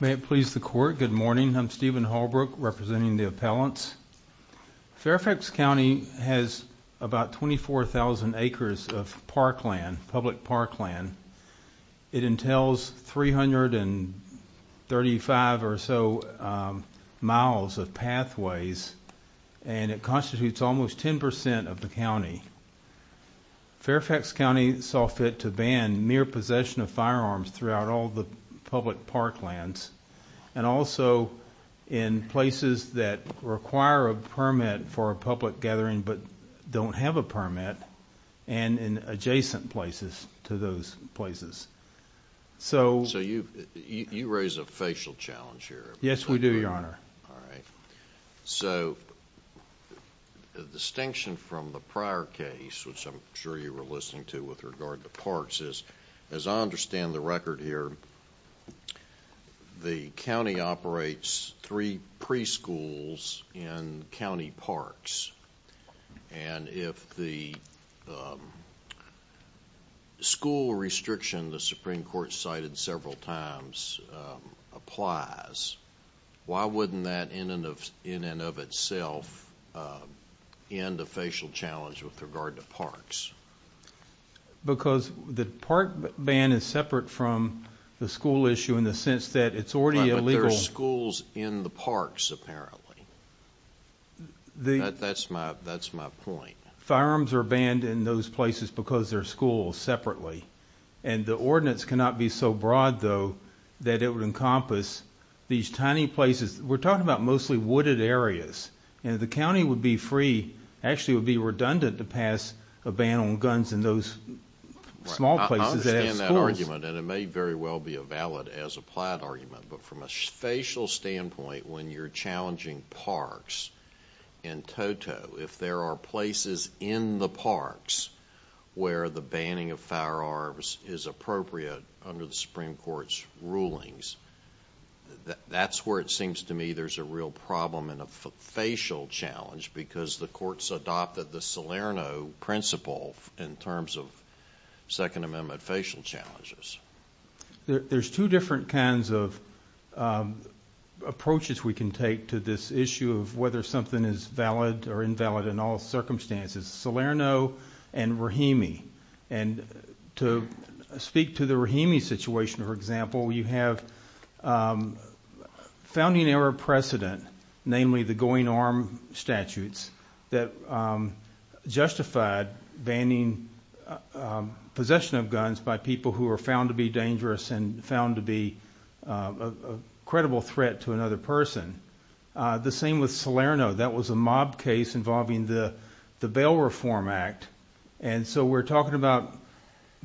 May it please the court. Good morning. I'm Steven Holbrook, representing the appellants. Fairfax County has about 24,000 acres of parkland, public parkland. It entails 335 or so miles of pathways, and it constitutes almost 10% of the county. Fairfax County saw fit to ban mere possession of firearms throughout all the public parklands, and also in places that require a permit for a public gathering but don't have a permit, and in adjacent places to those places. So you raise a facial challenge here. Yes, we do, Your Honor. All right. So the distinction from the prior case, which I'm sure you were listening to with regard to parks is, as I understand the record here, the county operates three preschools in county parks, and if the school restriction the Supreme Court cited several times applies, why wouldn't that in and of itself end a facial challenge with regard to parks? Because the park ban is separate from the school issue in the sense that it's already illegal. But there are schools in the parks, apparently. That's my point. Firearms are banned in those places because they're schools separately, and the ordinance cannot be so broad, though, that it would encompass these tiny places. We're talking about mostly wooded areas, and the county would be free, actually would be redundant to pass a ban on guns in those small places. I understand that argument, and it may very well be a valid as applied argument. But from a facial standpoint, when you're challenging parks in Toto, if there are places in the parks where the banning of firearms is appropriate under the Supreme Court's rulings, that's where it seems to me there's a real problem and a facial challenge because the courts adopted the Salerno principle in terms of Second Amendment facial challenges. There's two different kinds of approaches we can take to this issue of whether something is valid or invalid in all circumstances, Salerno and Rahimi. And to speak to the Rahimi situation, for example, you have founding era precedent, namely the going arm statutes that justified banning possession of guns by people who are found to be dangerous and found to be a credible threat to another person. The same with Salerno. That was a mob case involving the Bail Reform Act. And so we're talking about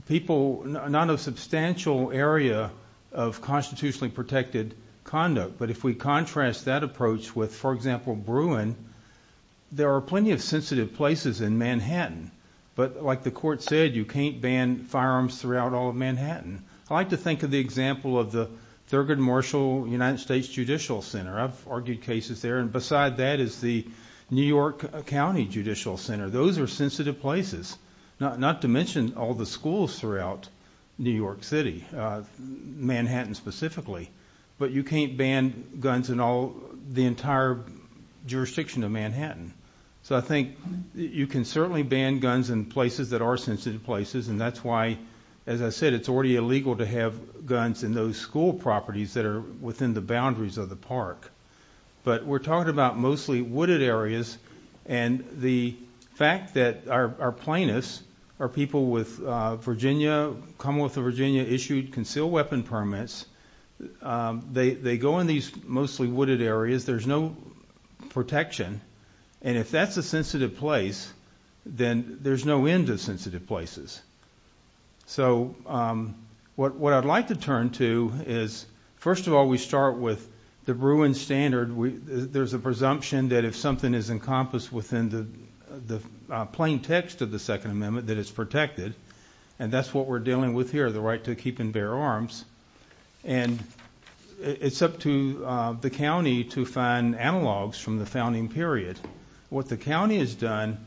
people, not a substantial area of constitutionally protected conduct. But if we contrast that approach with, for example, Bruin, there are plenty of sensitive places in Manhattan. But like the court said, you can't ban firearms throughout all of Manhattan. I like to think of the example of the Thurgood Marshall United States Judicial Center. I've argued cases there. And beside that is the New York County Judicial Center. Those are sensitive places, not to mention all the schools throughout New York City, Manhattan specifically. But you can't ban guns in all the entire jurisdiction of Manhattan. So I think you can certainly ban guns in places that are sensitive places. And that's why, as I said, it's already illegal to have guns in those school properties that are within the boundaries of the park. But we're talking about mostly wooded areas. And the fact that our plaintiffs are people with Virginia, Commonwealth of Virginia issued concealed weapon permits, they go in these mostly wooded areas. There's no protection. And if that's a sensitive place, then there's no end to sensitive places. So what I'd like to turn to is, first of all, we start with the Bruin standard. There's a presumption that if something is encompassed within the plain text of the Second Amendment, that it's protected. And that's what we're dealing with here, the right to keep and bear arms. And it's up to the county to find analogs from the founding period. What the county has done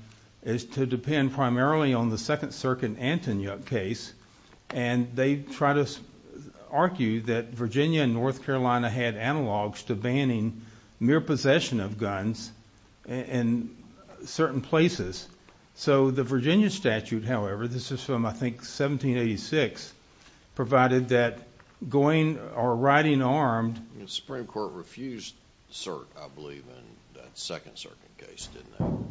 is to depend primarily on the Second Circuit Antonyuk case. And they try to argue that Virginia and North Carolina had analogs to banning mere possession of guns in certain places. So the Virginia statute, however, this is from, I think, 1786, provided that going or riding armed... The Supreme Court refused cert, I believe, in that Second Circuit case, didn't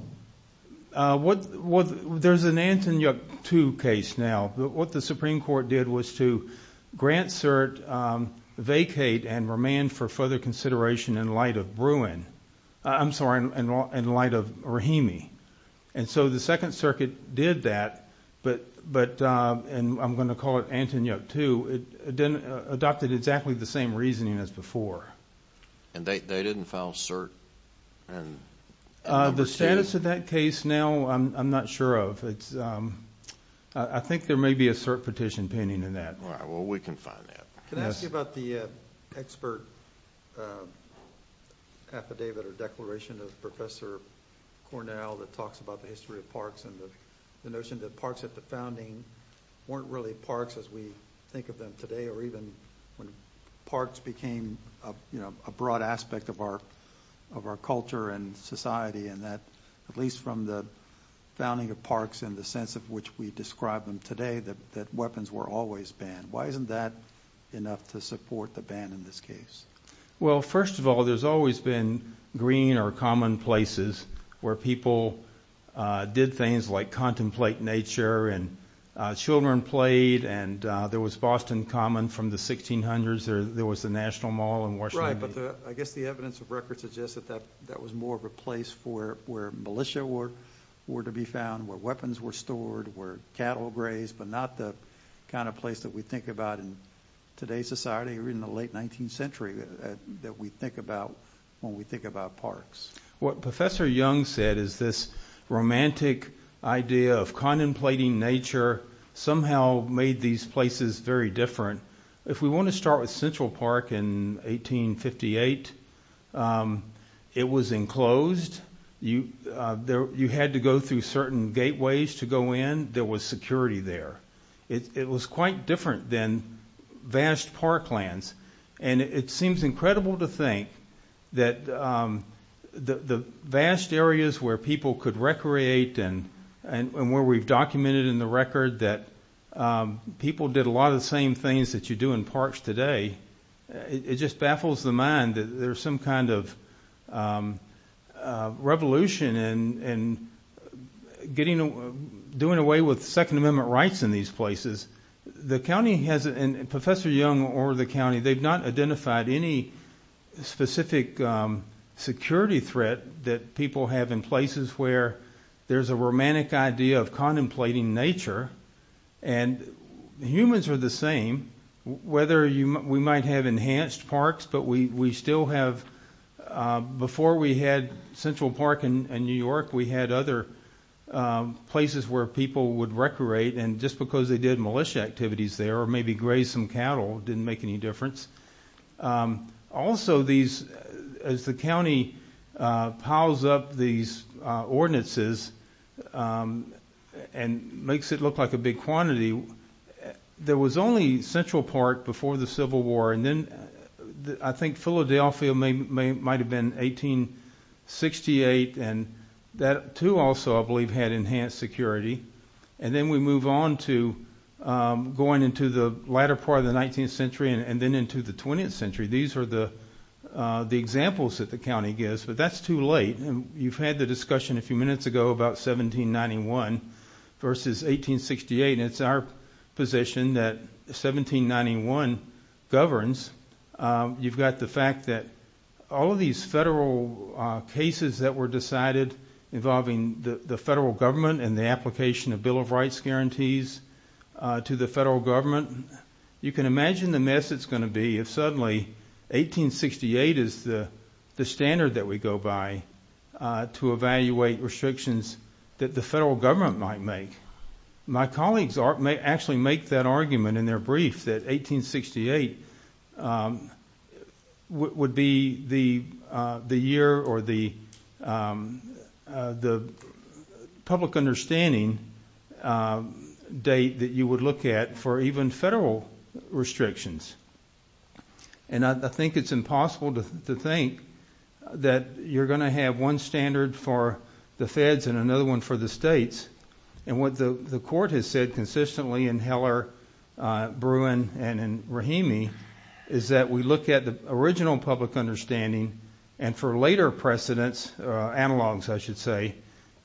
it? There's an Antonyuk 2 case now. What the Supreme Court did was to grant cert, vacate, and remand for further consideration in light of Bruin. I'm sorry, in light of Rahimi. And so the Second Circuit did that, and I'm going to call it Antonyuk 2. It adopted exactly the same reasoning as before. And they didn't file cert? The status of that case now, I'm not sure of. I think there may be a cert petition pending in that. All right, well, we can find that. Can I ask you about the expert affidavit or declaration of Professor Cornell that talks about the history of parks and the notion that parks at the founding weren't really parks as we think of them today, or even when parks became a broad aspect of our culture and society, and that, at least from the founding of parks in the sense of which we describe them today, that weapons were always banned. Why isn't that enough to support the ban in this case? Well, first of all, there's always been green or common places where people did things like contemplate nature, and children played, and there was Boston Common from the 1600s, there was the National Mall in Washington. Right, but I guess the evidence of record suggests that that was more of a place where militia were to be found, where weapons were stored, where cattle grazed, but not the kind of place that we think about in today's society or in the late 19th century that we think about when we think about parks. What Professor Young said is this romantic idea of contemplating nature somehow made these places very different. If we want to start with Central Park in 1858, it was enclosed. You had to go through certain gateways to go in. There was security there. It was quite different than vast park lands, and it seems incredible to think that the vast areas where people could recreate and where we've documented in the record that people did a lot of the same things that you do in parks today, it just baffles the mind that there's some kind of revolution in doing away with Second Amendment rights in these places. Professor Young over the county, they've not identified any specific security threat that people have in places where there's a romantic idea of contemplating nature, and humans are the same. Whether we might have enhanced parks, but before we had Central Park and New York, we had other places where people would recreate, and just because they did militia activities there or maybe grazed some cattle didn't make any difference. Also, as the county piles up these ordinances and makes it look like a big quantity, there was only Central Park before the Civil War, and then I think Philadelphia might have been 1868, and that too also, I don't know. Then we move on to going into the latter part of the 19th century and then into the 20th century. These are the examples that the county gives, but that's too late. You've had the discussion a few minutes ago about 1791 versus 1868. It's our position that 1791 governs. You've got the fact that all of these federal cases that were decided involving the federal government and the application of Bill of Rights guarantees to the federal government, you can imagine the mess it's going to be if suddenly 1868 is the standard that we go by to evaluate restrictions that the federal government might make. My colleagues actually make that argument in their brief that 1868 would be the year or the public understanding date that you would look at for even federal restrictions. I think it's impossible to think that you're going to have one standard for the feds and another one for the states. What the court has said consistently in Heller, Bruin, and Rahimi is that we look at the original public understanding and for later precedents, analogs I should say,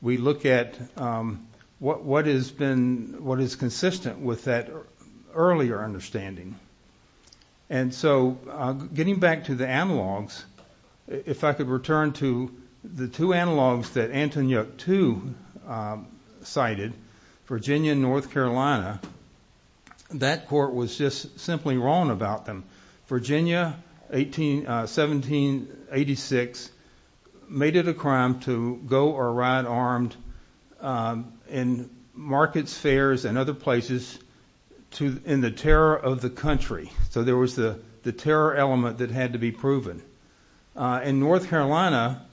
we look at what is consistent with that earlier understanding. Getting back to the analogs, if I could return to the two cited, Virginia and North Carolina, that court was just simply wrong about them. Virginia, 1786, made it a crime to go or ride armed in markets, fairs, and other places in the terror of the country. There was the terror element that had to be proven. In North Carolina,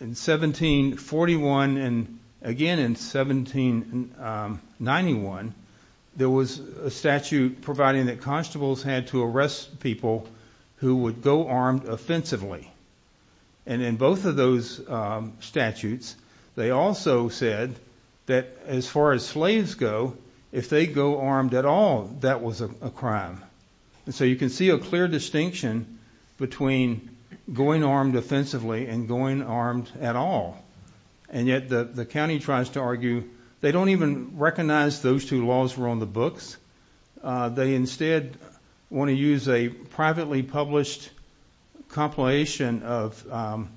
in 1741 and again in 1791, there was a statute providing that constables had to arrest people who would go armed offensively. In both of those statutes, they also said that as far as slaves go, if they go armed at all, that was a crime. You can see a clear distinction between going armed offensively and going armed at all. Yet the county tries to argue, they don't even recognize those two laws were on the books. They instead want to use a privately published compilation of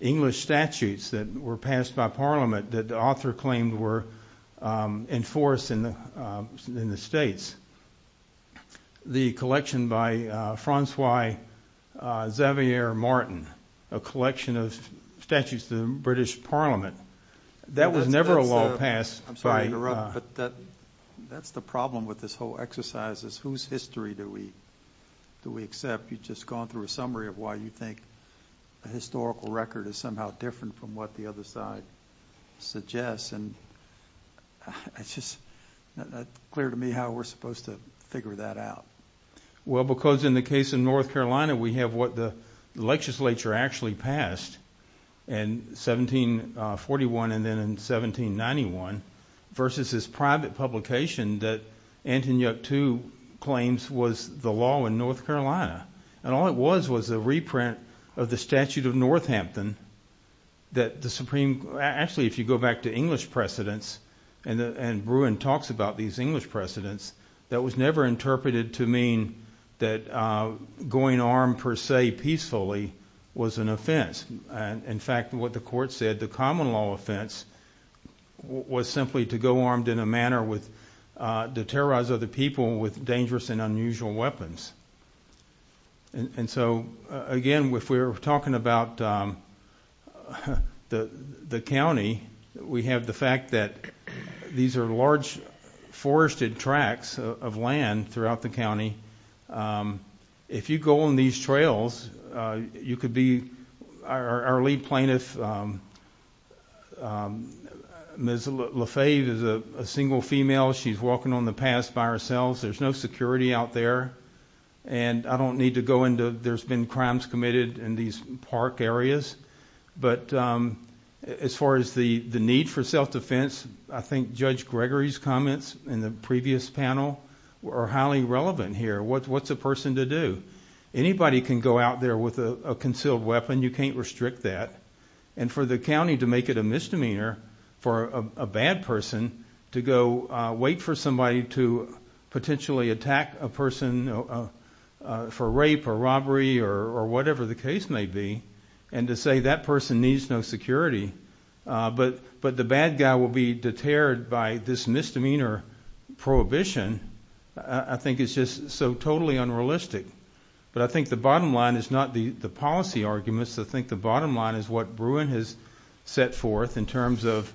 English statutes that were passed by parliament that the author claimed were enforced in the states. The collection by Francois Xavier Martin, a collection of statutes to the British parliament, that was never a law passed by... I'm sorry to interrupt, but that's the problem with this whole exercise is whose history do we accept? You've just gone through a summary of why you think a historical record is somehow different from what the other side suggests. It's just clear to me how we're supposed to figure that out. Well, because in the case of North Carolina, we have what the legislature actually passed in 1741 and then in 1791 versus this private publication that Antonyuk II claims was the law in North Carolina. All it was was a reprint of the statute of Northampton that the Supreme... Actually, if you go back to precedents, and Bruin talks about these English precedents, that was never interpreted to mean that going armed per se peacefully was an offense. In fact, what the court said, the common law offense was simply to go armed in a manner with to terrorize other people with dangerous and unusual weapons. And so, again, if we're talking about the county, we have the fact that these are large forested tracts of land throughout the county. If you go on these trails, you could be... Our lead plaintiff, Ms. Lafave, is a single female. She's walking on the paths by herself. There's no security out there. And I don't need to go into... There's been crimes committed in these park areas. But as far as the need for self-defense, I think Judge Gregory's comments in the previous panel are highly relevant here. What's a person to do? Anybody can go out there with a concealed weapon. You can't restrict that. And for the county to make it a misdemeanor for a bad person to go wait for somebody to potentially attack a person for rape or robbery or whatever the case may be, and to say that person needs no security, but the bad guy will be deterred by this misdemeanor prohibition, I think it's just so totally unrealistic. But I think the bottom line is not the policy arguments. I think the bottom line is what Bruin has set forth in terms of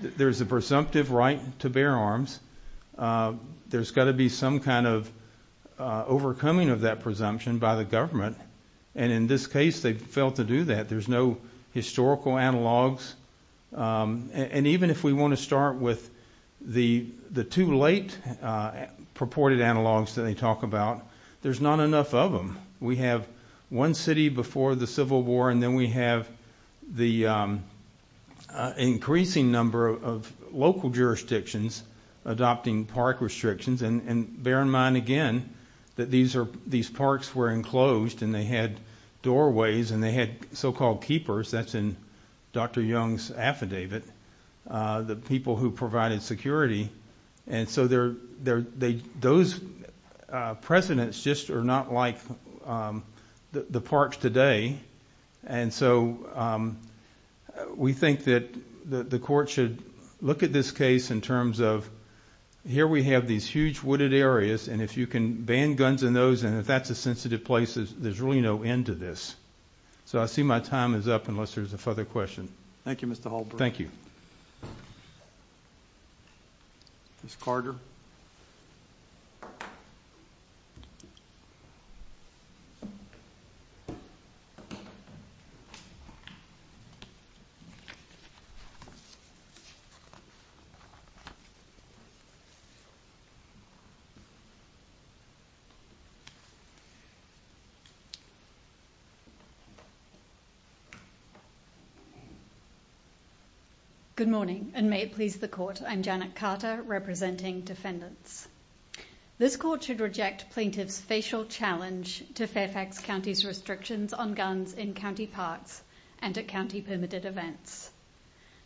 there's a presumptive right to bear arms. There's got to be some kind of overcoming of that presumption by the government. And in this case, they failed to do that. There's no historical analogs. And even if we want to start with the two late purported analogs that they talk about, there's not enough of them. We have one city before the Civil War, and then we have the increasing number of local jurisdictions adopting park restrictions. And bear in mind, again, that these parks were enclosed, and they had doorways, and they had so-called keepers. That's in Dr. Young's affidavit, the people who provided security. And so those precedents just are not like the parks today. And so we think that the court should look at this case in terms of here we have these huge wooded areas, and if you can ban guns in those, and if that's a sensitive place, there's really no end to this. So I see my time is up unless there's a further question. Thank you, Mr. Holbrook. Ms. Carter. Good morning, and may it please the court. I'm Janet Carter, representing defendants. This court should reject plaintiffs' facial challenge to Fairfax County's restrictions on guns in county parks and at county permitted events.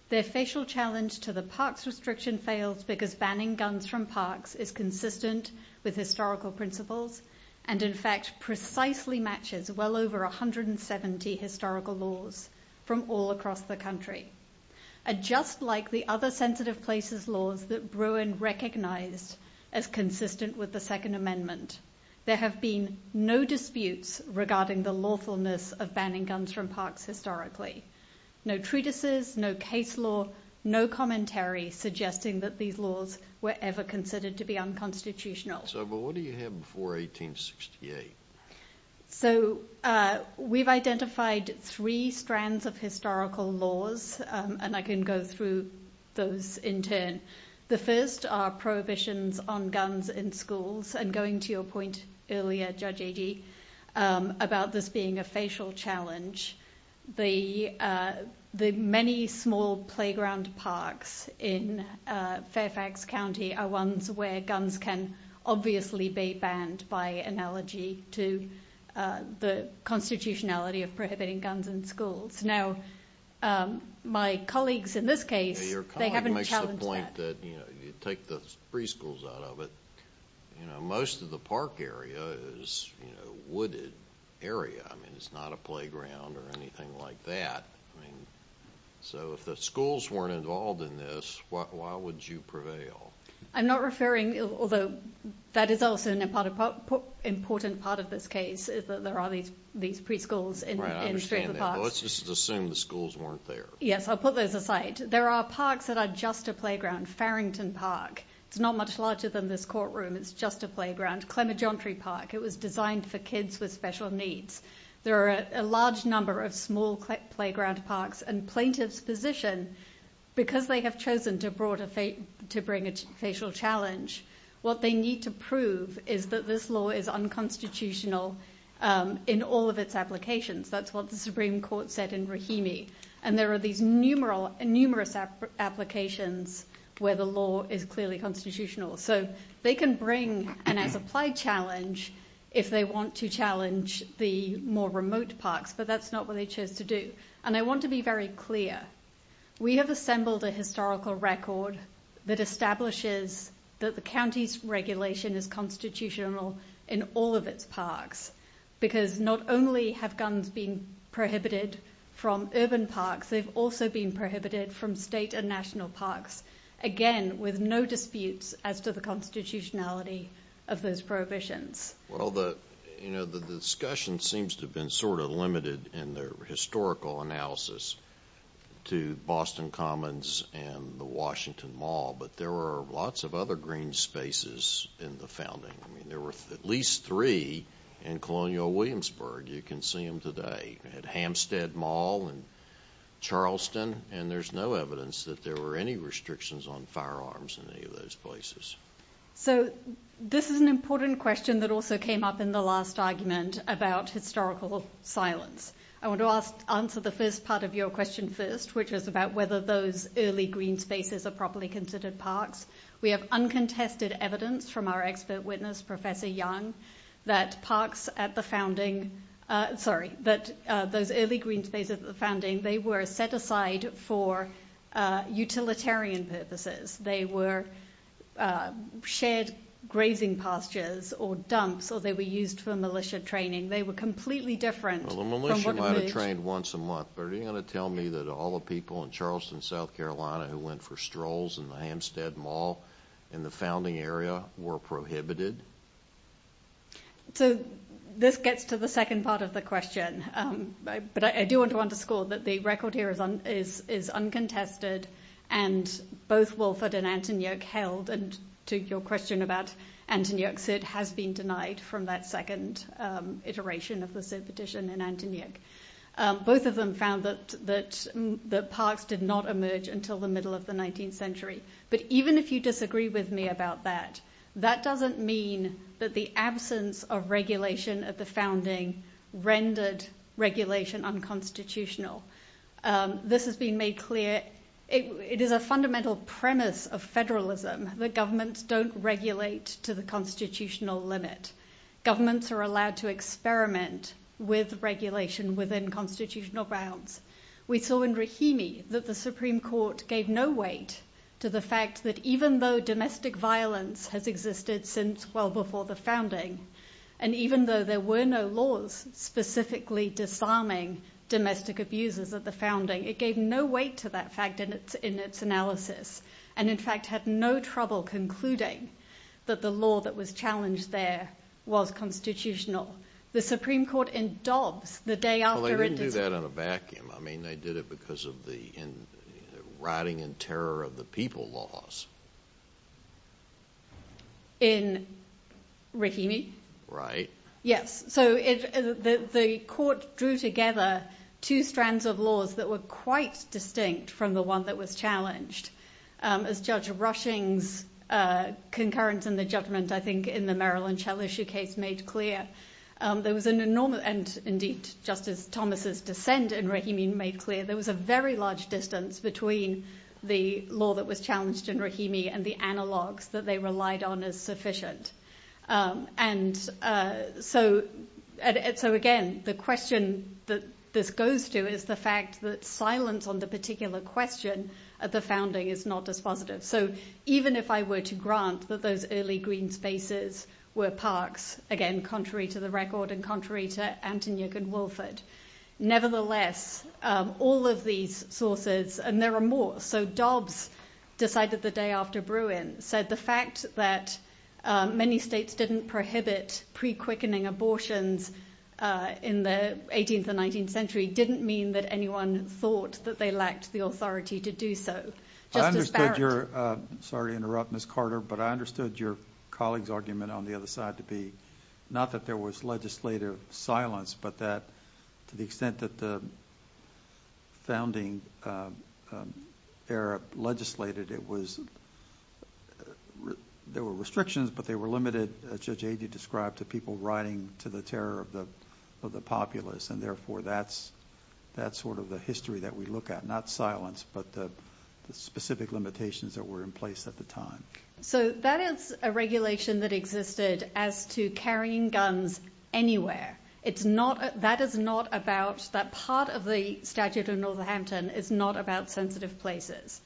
Their facial challenge to the parks restriction fails because banning guns from parks is consistent with historical principles, and in fact precisely matches well over 170 historical laws from all across the country. And just like the other sensitive places laws that Bruin recognized as consistent with the Second Amendment, there have been no disputes regarding the lawfulness of banning guns from parks historically. No treatises, no case law, no commentary suggesting that these laws were ever considered to be unconstitutional. So, but what do you have before 1868? So we've identified three strands of historical laws, and I can go through those in turn. The first are prohibitions on guns in schools, and going to your point earlier, Judge Agee, about this being a facial challenge, the many small playground parks in Fairfax County are ones where guns can obviously be banned by analogy to the constitutionality of prohibiting guns in schools. Now, my colleagues in this case, they haven't challenged that. Your colleague makes the point that, you know, you take the preschools out of it, you know, most of the park area is, you know, wooded area. I mean, it's not a playground or anything like that. I mean, so if the schools weren't involved in this, why would you prevail? I'm not referring, although that is also an important part of this case, is that there are these preschools in the parks. Let's just assume the schools weren't there. Yes, I'll put those aside. There are parks that are just a playground. Farrington Park, it's not much larger than this courtroom, it's just a playground. Clemerjantry Park, it was designed for kids with special needs. There are a large number of small playground parks, and plaintiffs' position, because they have chosen to bring a facial challenge, what they need to prove is that this law is unconstitutional in all of its applications. That's what the Supreme Court said in Rahimi. And there are these numerous applications where the law is clearly constitutional. So they can bring an as-applied challenge if they want to challenge the more remote parks, but that's not what they chose to do. And I want to be very clear. We have assembled a historical record that establishes that the county's regulation is constitutional in all of its parks, because not only have guns been prohibited from urban parks, they've also been prohibited from state and national parks. Again, with no disputes as to the constitutionality of those prohibitions. Well, you know, the discussion seems to have been sort of limited in the historical analysis to Boston Commons and the Washington Mall, but there were lots of other green spaces in the founding. I mean, there were at least three in Colonial Williamsburg. You can see them today at Hampstead Mall and Charleston, and there's no evidence that there were any restrictions on firearms in any of those places. So this is an important question that also came up in the last argument about historical silence. I want to answer the first part of your question first, which is about whether those early green spaces are properly considered parks. We have uncontested evidence from our expert witness, Professor Young, that parks at the founding, sorry, that those early green spaces at the founding, they were set aside for utilitarian purposes. They were shared grazing pastures or dumps, or they were used for militia training. They were completely different. Well, the militia might have trained once a month, but are you going to tell me that all the people in Charleston, South Carolina who went for strolls in the Hampstead Mall in the founding area were prohibited? So this gets to the second part of the question, but I do want to underscore that the record here is uncontested and both Wilford and Antonyoke held, and to your question about Antonyoke's, it has been denied from that second iteration of the petition in Antonyoke. Both of them found that the parks did not emerge until the middle of the 19th century. But even if you disagree with me about that, that doesn't mean that the absence of regulation at the founding rendered regulation unconstitutional. This has been made clear. It is a fundamental premise of federalism that governments don't regulate to the constitutional limit. Governments are allowed to experiment with regulation within constitutional bounds. We saw in Rahimi that the Supreme Court gave no weight to the fact that even though domestic violence has existed since well before the founding, and even though there were no laws specifically disarming domestic abuses at the founding, it gave no weight to that fact in its analysis, and in fact, had no trouble concluding that the law that was challenged there was constitutional. The Supreme Court in Dobbs, the day after it did it. Well, they didn't do that in a vacuum. I mean, they did it because of the rotting and terror of the people laws. In Rahimi? Right. Yes. So the court drew together two strands of laws that were quite distinct from the one that was challenged. As Judge Rushing's concurrence in the judgment, I think, in the Maryland Shell issue case made clear, there was an enormous, and indeed, Justice Thomas's dissent in Rahimi made clear, there was a very large distance between the law that was challenged in Rahimi and the analogs that they relied on as sufficient. And so, again, the question that this goes to is the fact that silence on the particular question at the founding is not dispositive. So even if I were to grant that those early green spaces were parks, again, contrary to the record and contrary to Antony and Wilford, nevertheless, all of these sources, and there are more, so Dobbs decided the day after Bruin, said the fact that many states didn't prohibit pre-quickening abortions in the 18th and 19th century didn't mean that anyone thought that they lacked the authority to do so. Sorry to interrupt, Ms. Carter, but I understood your colleague's argument on the other side to be not that there was legislative silence, but that to the extent that the founding era legislated, there were restrictions, but they were limited, as Judge Agee described, to people riding to the terror of the populace. And therefore, that's sort of the history that we look at, not silence, but the specific limitations that were in place at the time. So that is a regulation that existed as to carrying guns anywhere. That part of the statute of Northampton is not about sensitive places.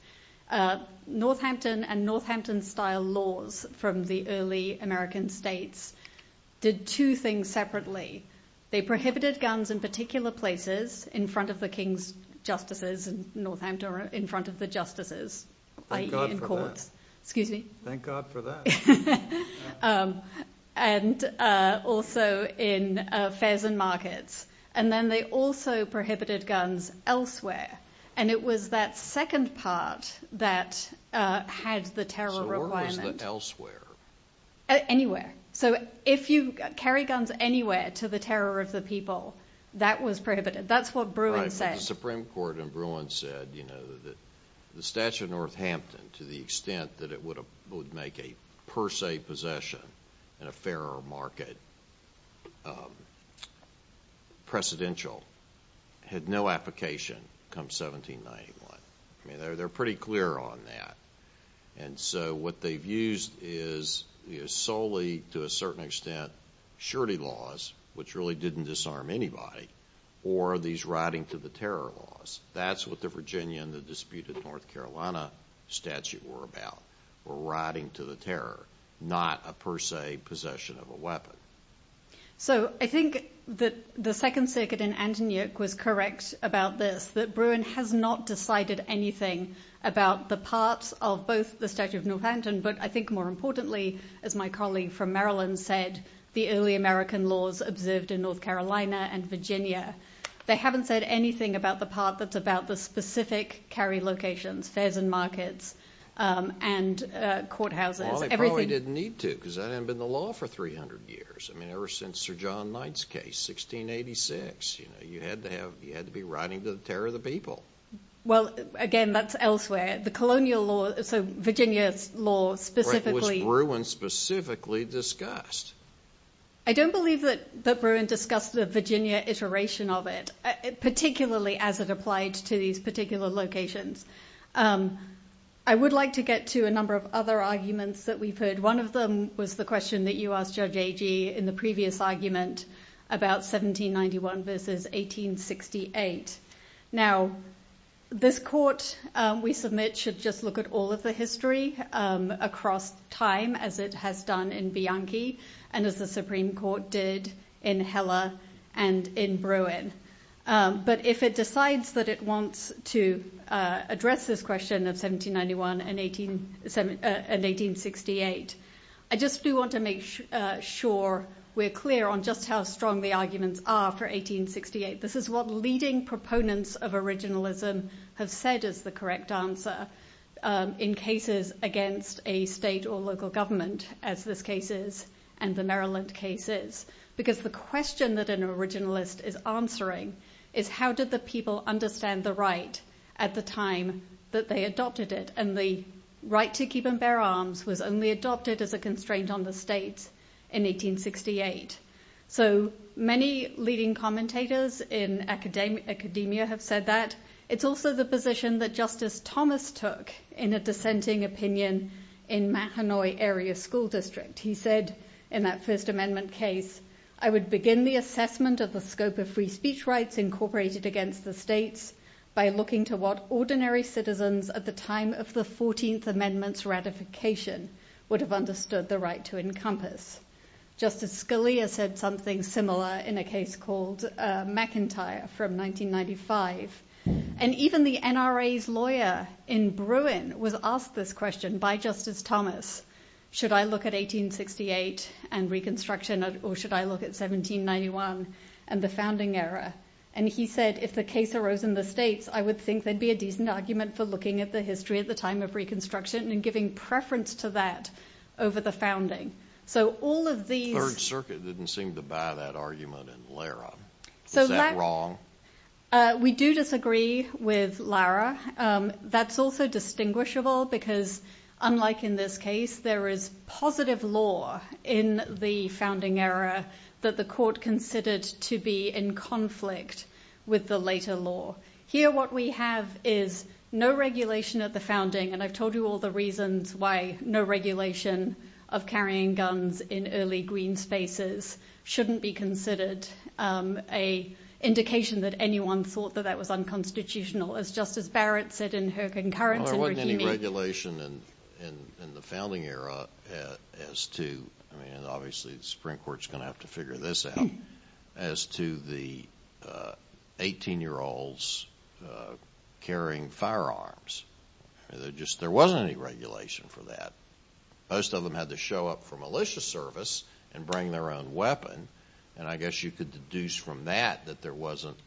Northampton and Northampton style laws from the early American states did two things separately. They prohibited guns in particular places, in front of the king's justices in Northampton or in front of the justices, i.e. in courts, excuse me. Thank God for that. And also in fairs and markets. And then they also prohibited guns elsewhere. And it was that second part that had the terror requirement. Elsewhere? Anywhere. So if you carry guns anywhere to the terror of the people, that was prohibited. That's what Bruin said. The Supreme Court in Bruin said, you know, that the statute of Northampton, to the extent that it would make a per se possession in a fair or market precedential, had no application come 1791. I mean, they're pretty clear on that. And so what they've used is solely to a certain extent, surety laws, which really didn't disarm anybody, or these riding to the terror laws. That's what the Virginia and the disputed North Carolina statute were about, were riding to the terror, not a per se possession of a weapon. So I think that the Second Circuit in Antioch was correct about this, that Bruin has not decided anything about the parts of both the statute of Northampton. But I think more importantly, as my colleague from Maryland said, the early American laws observed in North Carolina and Virginia, they haven't said anything about the part that's about the specific carry locations, fairs and markets, and courthouses, everything. They probably didn't need to, because that hadn't been the law for 300 years. I mean, ever since Sir John Knight's case, 1686, you know, you had to have, you had to be riding to the terror of the people. Well, again, that's elsewhere, the colonial law. So Virginia's law specifically, Bruin specifically discussed. I don't believe that that Bruin discussed the Virginia iteration of it, particularly as it applied to these particular locations. I would like to get to a number of other arguments that we've heard. One of them was the question that you asked Judge Agee in the previous argument about 1791 versus 1868. Now, this court, we submit should just look at all of the history across time as it has done in Bianchi, and as the Supreme Court did in Heller and in Bruin. But if it decides that it wants to address this question of 1791 and 1868, I just do want to make sure we're clear on just how strong the arguments are for 1868. This is what leading proponents of originalism have said is the correct answer in cases against a state or local government, as this case is, and the Maryland case is. Because the question that an originalist is answering is how did the people understand the right at the time that they adopted it? And the right to keep and bear arms was only adopted as a constraint on the state in 1868. So many leading commentators in academia have said that. It's also the position that Justice Thomas took in a dissenting opinion in Mahanoy Area School District. He said, in that First Amendment case, I would begin the assessment of the scope of free speech rights incorporated against the states by looking to what ordinary citizens at the time of the 14th Amendment's ratification would have understood the right to encompass. Justice Scalia said something similar in a case called McIntyre from 1995. And even the NRA's lawyer in Bruin was asked this question by Justice Thomas, should I look at 1868 and Reconstruction or should I look at 1791 and the founding era? And he said, if the case arose in the states, I would think there'd be a decent argument for looking at the history at the time of Reconstruction and giving preference to that over the founding. So all of these... Third Circuit didn't seem to buy that argument in Lara. Is that wrong? We do disagree with Lara. That's also distinguishable because, unlike in this case, there is positive law in the founding era that the court considered to be in conflict with the later law. Here, what we have is no regulation at the founding. And I've told you all the reasons why no regulation of carrying guns in early green spaces shouldn't be considered an indication that anyone thought that that was unconstitutional. As Justice Barrett said in her concurrence... There wasn't any regulation in the founding era as to, I mean, and obviously the Supreme Court's going to have to figure this out, as to the 18-year-olds carrying firearms. There wasn't any regulation for that. Most of them had to show up for militia service and bring their own weapon. And I guess you could deduce from that that there wasn't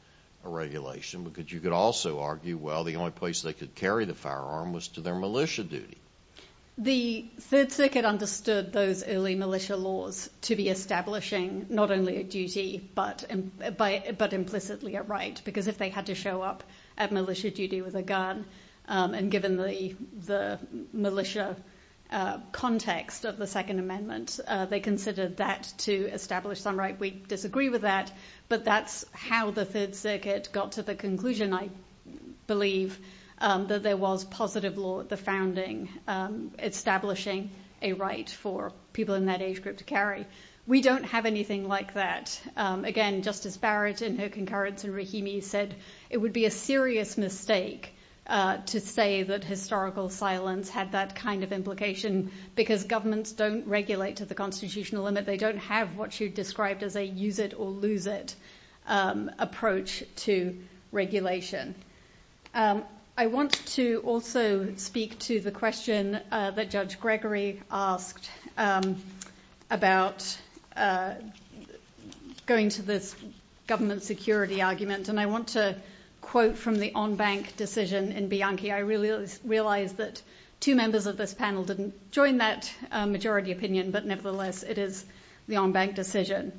a regulation because you could also argue, well, the only place they could carry the firearm was to their militia duty. The Third Circuit understood those early militia laws to be establishing not only a duty, but implicitly a right. Because if they had to show up at militia duty with a gun, and given the militia context of the Second Amendment, they considered that to establish some right. We disagree with that. But that's how the Third Circuit got to the conclusion, I believe, that there was positive law at the founding, establishing a right for people in that age group to carry. We don't have anything like that. Again, Justice Barrett in her concurrence in Rahimi said, it would be a serious mistake to say that historical silence had that kind of implication, because governments don't regulate to the constitutional limit. They don't have what you described as a use it or lose it approach to regulation. I want to also speak to the question that Judge Gregory asked about going to this government security argument. And I want to quote from the en banc decision in Bianchi. I realize that two members of this panel didn't join that majority opinion, but nevertheless, it is the en banc decision.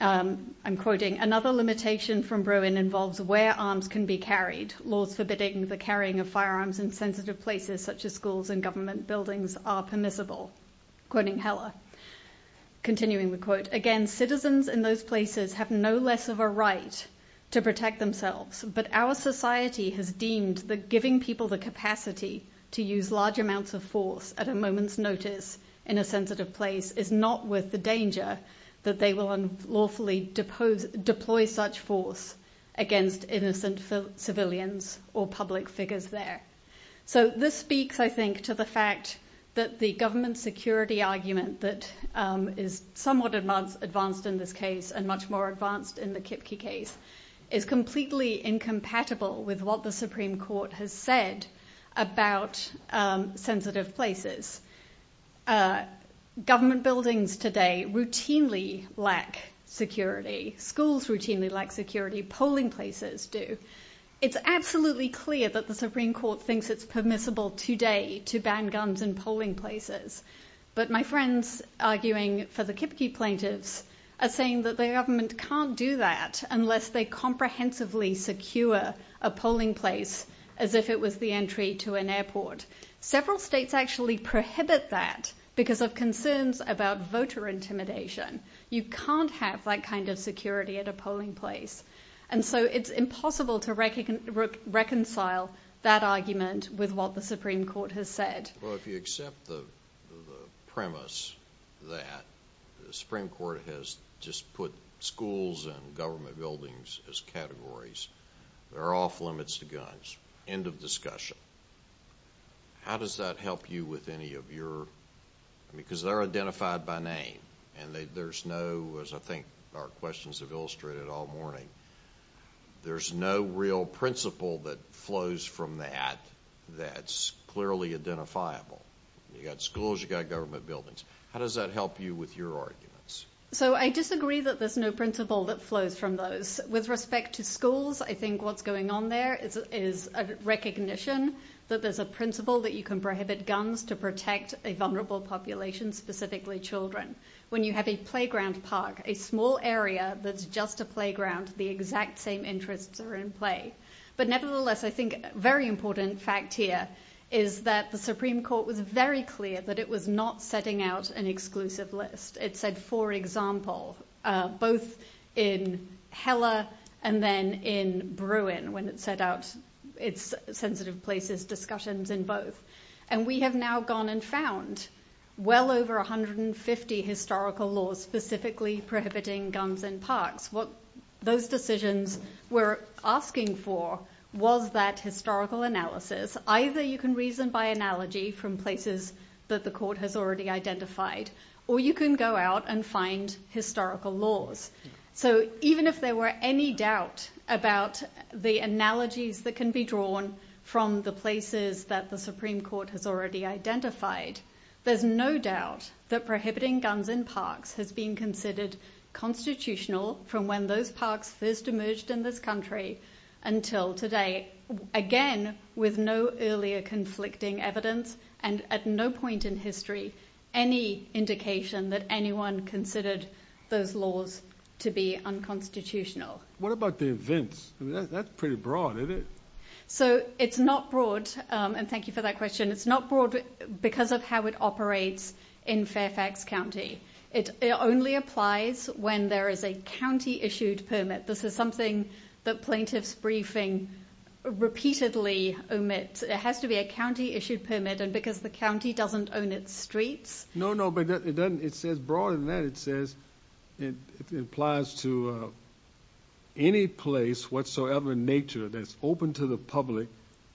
I'm quoting, another limitation from Bruin involves where arms can be carried, laws forbidding the firearms in sensitive places such as schools and government buildings are permissible, quoting Heller. Continuing the quote, again, citizens in those places have no less of a right to protect themselves. But our society has deemed that giving people the capacity to use large amounts of force at a moment's notice in a sensitive place is not worth the danger that they will unlawfully depose deploy such force against innocent civilians or public figures there. So this speaks, I think, to the fact that the government security argument that is somewhat advanced in this case, and much more advanced in the Kipke case, is completely incompatible with what the Supreme Court has said about sensitive places. Government buildings today routinely lack security, schools routinely lack security, polling places do. It's absolutely clear that the Supreme Court thinks it's permissible today to ban guns in polling places. But my friends arguing for the Kipke plaintiffs are saying that the government can't do that unless they comprehensively secure a polling place, as if it was the entry to an airport. Several states actually prohibit that because of concerns about voter intimidation. You can't have that kind of security at a polling place. And so it's impossible to reconcile that argument with what the Supreme Court has said. Well, if you accept the premise that the Supreme Court has just put schools and government buildings as categories, they're off limits to guns, end of discussion. How does that help you with any of your, because they're identified by name, and there's no, as I think our questions have illustrated all morning, there's no real principle that flows from that, that's clearly identifiable. You got schools, you got government buildings. How does that help you with your arguments? So I disagree that there's no principle that flows from those with respect to schools. I think what's going on there is a recognition that there's a principle that you can prohibit guns to protect a vulnerable population, specifically children. When you have a playground park, a small area that's just a playground, the exact same interests are in play. But nevertheless, I think a very important fact here is that the Supreme Court was very clear that it was not setting out an exclusive list. It said, for example, both in Heller and then in Bruin when it set out its sensitive places, discussions in both. And we have now gone and found well over 150 historical laws specifically prohibiting guns in parks. What those decisions were asking for was that historical analysis. Either you can reason by analogy from places that the court has already identified, or you can go out and find historical laws. So even if there were any doubt about the analogies that can be drawn from the places that the Supreme Court has already identified, there's no doubt that prohibiting guns in parks has been considered constitutional from when those parks first emerged in this country until today. Again, with no earlier conflicting evidence and at no point in history, any indication that anyone considered those laws to be unconstitutional. What about the events? That's pretty broad, isn't it? So it's not broad. And thank you for that question. It's not broad because of how it operates in Fairfax County. It only applies when there is a county issued permit. This is something that plaintiffs briefing repeatedly omits. It has to be a county issued permit and because the county doesn't own its streets. No, no, but it doesn't. It says broader than that. It says it applies to any place whatsoever in nature that's open to the public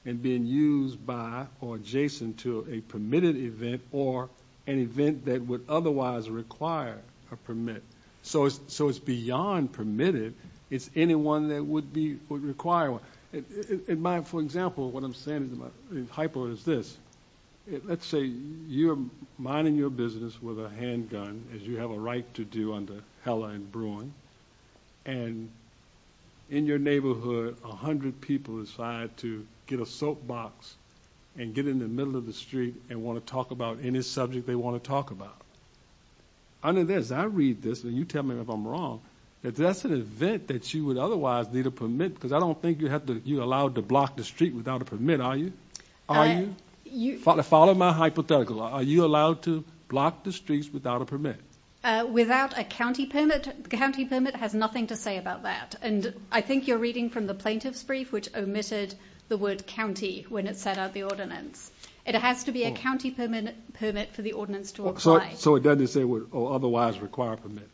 and being used by or adjacent to a permitted event or an event that would otherwise require a permit. So it's beyond permitted. It's anyone that would require one. For example, what I'm saying in Hypo is this. Let's say you're minding your business with a handgun as you have a right to do under Heller and brewing. And in your neighborhood, 100 people decide to get a soapbox and get in the middle of the street and want to talk about any subject they want to talk about. Under this, I read this and you tell me if I'm wrong, that that's an event that you would otherwise need a permit because I don't think you have to you allowed to block the street without a permit. Are you on you follow my hypothetical? Are you allowed to block the streets without a permit? Without a county permit, the county permit has nothing to say about that. And I think you're reading from the plaintiff's brief, which omitted the word county when it set out the ordinance, it has to be a county permit permit for the ordinance to apply. So it doesn't say would otherwise require permit,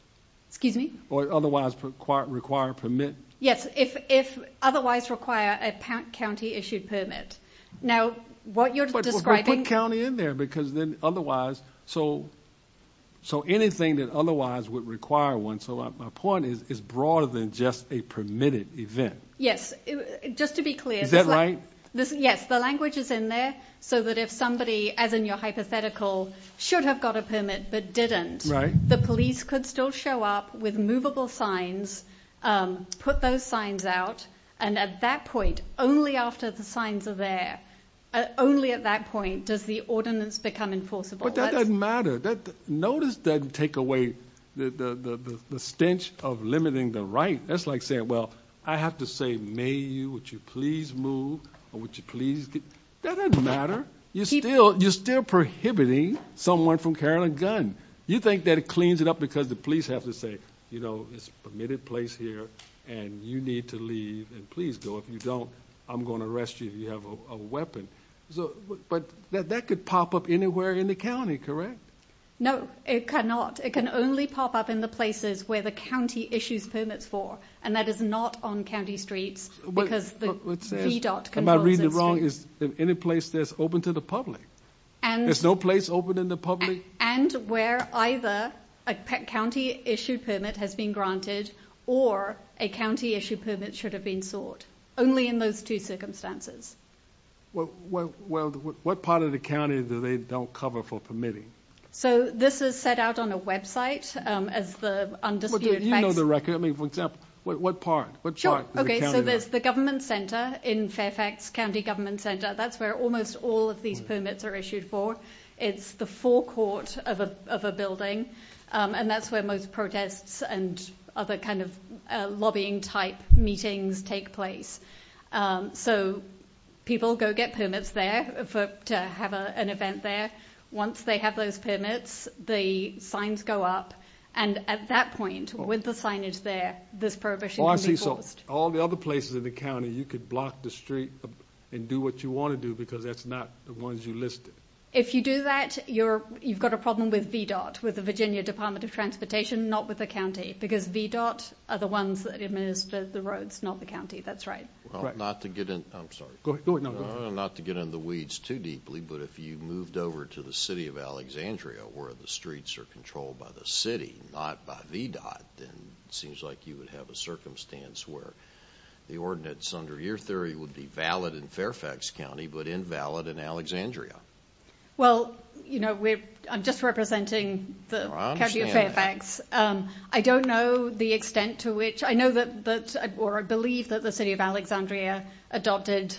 excuse me, or otherwise required require permit. Yes, if if otherwise require a county issued permit. Now, what you're describing county in there, because then otherwise, so, so anything that otherwise would require one. So my point is, is broader than just a permitted event. Yes. Just to be clear, that's right. This Yes, the language is in there. So that if somebody as in your hypothetical, should have got a permit, but didn't write, the police could still show up with movable signs, put those signs out. And at that point, only after the signs are there, only at that point, does the ordinance become enforceable? But that doesn't matter that notice doesn't take away the stench of limiting the right. That's like saying, Well, I have to say, may you would you please move? Or would you please? That doesn't matter. You're still you're still prohibiting someone from carrying a gun. You think that it cleans it up because the police have to say, you know, it's permitted place here. And you need to leave and please go if you don't, I'm going to arrest you if you have a weapon. So but that that could pop up anywhere in the county, correct? No, it cannot, it can only pop up in the places where the county issues permits for and that is not on county streets. Because the dot can I read it wrong? Is there any place that's open to the public? And there's no place open in the public and where either a county issued permit has been granted, or a county issued permit should have been sought only in those two circumstances. Well, well, what part of the county that they don't cover for permitting? So this is set out on a website as the undisputed record. I mean, for example, what part? But sure. Okay, so there's the government center in Fairfax County Government Center. That's where almost all of these permits are issued for. It's the forecourt of a building. And that's where most protests and other kind of lobbying type meetings take place. So people go get permits there for to have an event there. Once they have those permits, the signs go up. And at that point, with the signage there, this prohibition All the other places in the county, you could block the street and do what you want to do because that's not the ones you listed. If you do that, you're you've got a problem with VDOT with the transportation, not with the county, because VDOT are the ones that administer the roads, not the county. That's right. Not to get in. I'm sorry. Go ahead. Not to get in the weeds too deeply. But if you moved over to the city of Alexandria, where the streets are controlled by the city, not by VDOT, then it seems like you would have a circumstance where the ordinance under your theory would be valid in Fairfax County, but invalid in Alexandria. Well, you know, we're just representing the Fairfax. I don't know the extent to which I know that that or I believe that the city of Alexandria adopted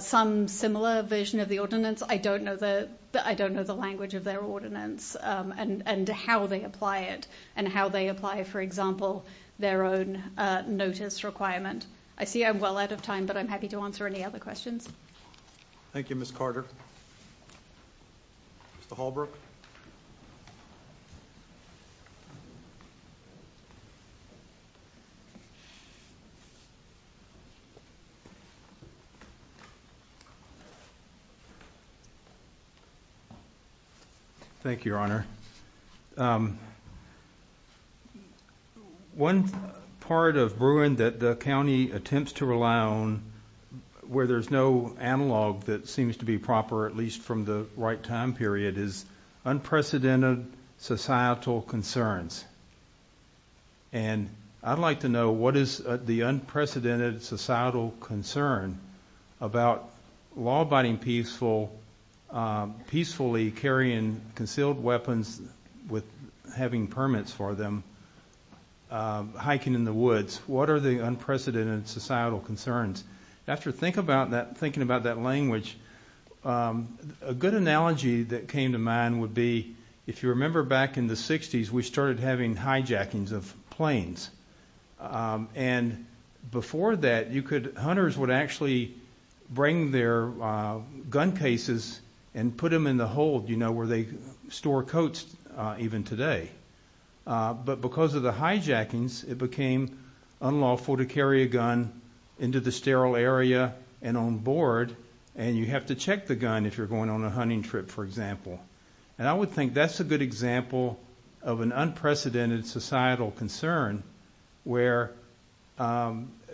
some similar vision of the ordinance. I don't know that. I don't know the language of their ordinance and how they apply it and how they apply, for example, their own notice requirement. I see I'm well out of time, but I'm happy to answer any other questions. Thank you, Miss Carter. Mr. Hallbrook. Thank you, Your Honor. One part of Bruin that the county attempts to rely on where there's no analog that seems to be proper, at least from the right time period, is unprecedented societal concerns. And I'd like to know what is the unprecedented societal concern about law-abiding peaceful, peacefully carrying concealed weapons with having permits for them, hiking in the woods. What are the unprecedented societal concerns? After thinking about that language, a good analogy that came to mind would be, if you remember back in the 60s, we started having hijackings of planes. And before that, hunters would actually bring their gun cases and put them in the hold, you know, where they store coats even today. But because of the hijackings, it became unlawful to carry a gun into the sterile area and on board, and you have to check the gun if you're going on a hunting trip, for example. And I would think that's a good example of an unprecedented societal concern where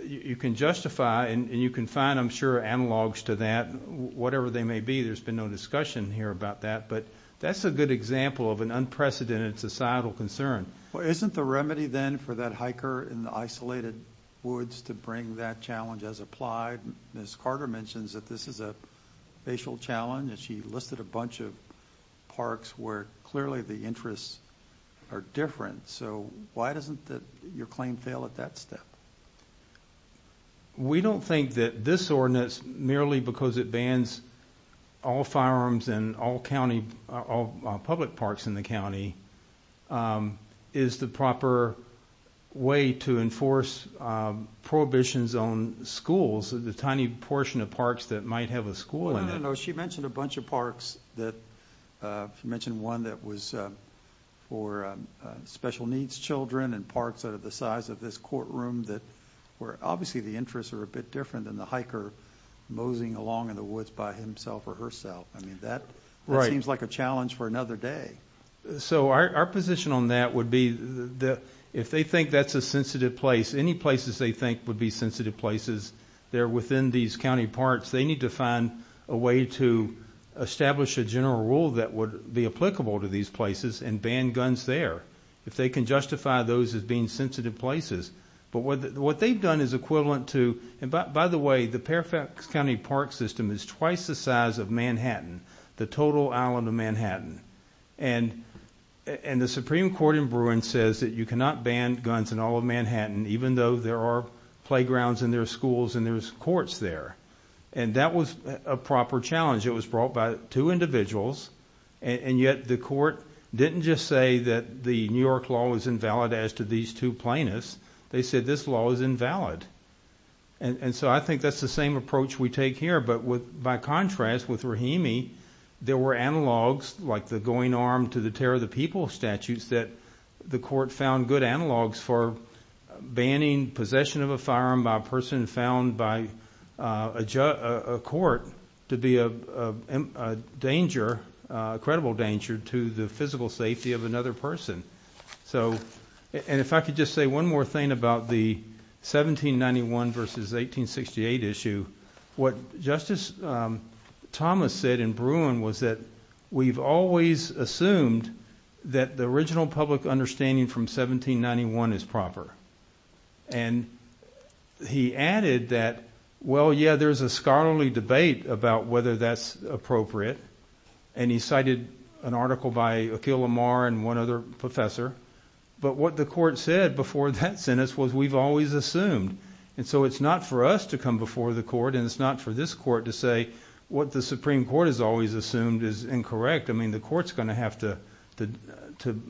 you can justify and you can find, I'm sure, analogs to that, whatever they may be. There's been no discussion here about that, but that's a good example of an unprecedented societal concern. Well, isn't the remedy then for that hiker in the isolated woods to bring that challenge as applied? Ms. Carter mentions that this is a racial challenge, and she listed a bunch of parks where clearly the interests are different. So why doesn't your claim fail at that step? We don't think that this ordinance, merely because it bans all firearms in all public parks in the county, is the proper way to enforce prohibitions on schools, the tiny portion of parks that might have a school in them. No, no, no. She mentioned a bunch of parks that... She mentioned one that was for special needs children and parks that are the size of this courtroom that were... Obviously, the interests are a bit different than the hiker moseying along in the woods by himself or herself. I mean, that seems like a challenge for another day. So our position on that would be that if they think that's a sensitive place, any places they think would be sensitive places there within these county parks, they need to find a way to establish a general rule that would be applicable to these places and ban guns there, if they can justify those as being sensitive places. But what they've done is equivalent to... And by the way, the Fairfax County Park System is twice the size of Manhattan, the total island of Manhattan. And the Supreme Court in Bruin says that you cannot ban guns in all of Manhattan, even though there are playgrounds in their schools and there's courts there. And that was a proper challenge. It was brought by two individuals, and yet the court didn't just say that the New York law was invalid as to these two plaintiffs. They said this law is invalid. And so I think that's the same approach we take here. But by contrast, with Rahimi, there were analogs like the going arm to the tear of the people statutes that the court found good analogs for banning possession of a firearm by a person found by a court to be a danger, a credible danger to the physical safety of another person. And if I could just say one more thing about the 1791 versus 1868 issue, what Justice Thomas said in Bruin was that we've always assumed that the original public understanding from 1791 is proper. And he added that, well, yeah, there's a scholarly debate about whether that's appropriate. And he cited an article by Akhil Amar and one other professor. But what the court said before that sentence was we've always assumed. And so it's not for us to come before the court, and it's not for this court to say what the Supreme Court has always assumed is incorrect. I mean, the court's going to have to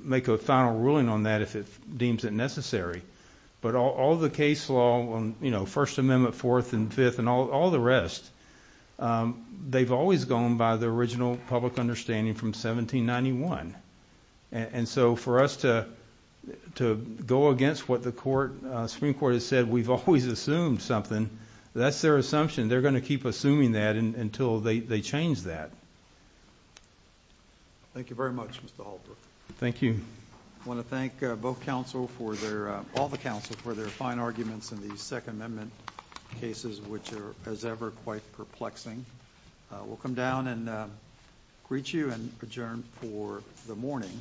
make a final ruling on that if it deems it necessary. But all the case law on, you know, First Amendment, Fourth and Fifth and all the rest, they've always gone by the original public understanding from 1791. And so for us to go against what the Supreme Court has said, we've always assumed something. That's their assumption. They're going to keep assuming that until they change that. Thank you very much, Mr. Halpern. Thank you. I want to thank both counsel for their, all the counsel for their fine arguments in the Second Amendment cases, which are, as ever, quite perplexing. We'll come down and greet you adjourned for the morning.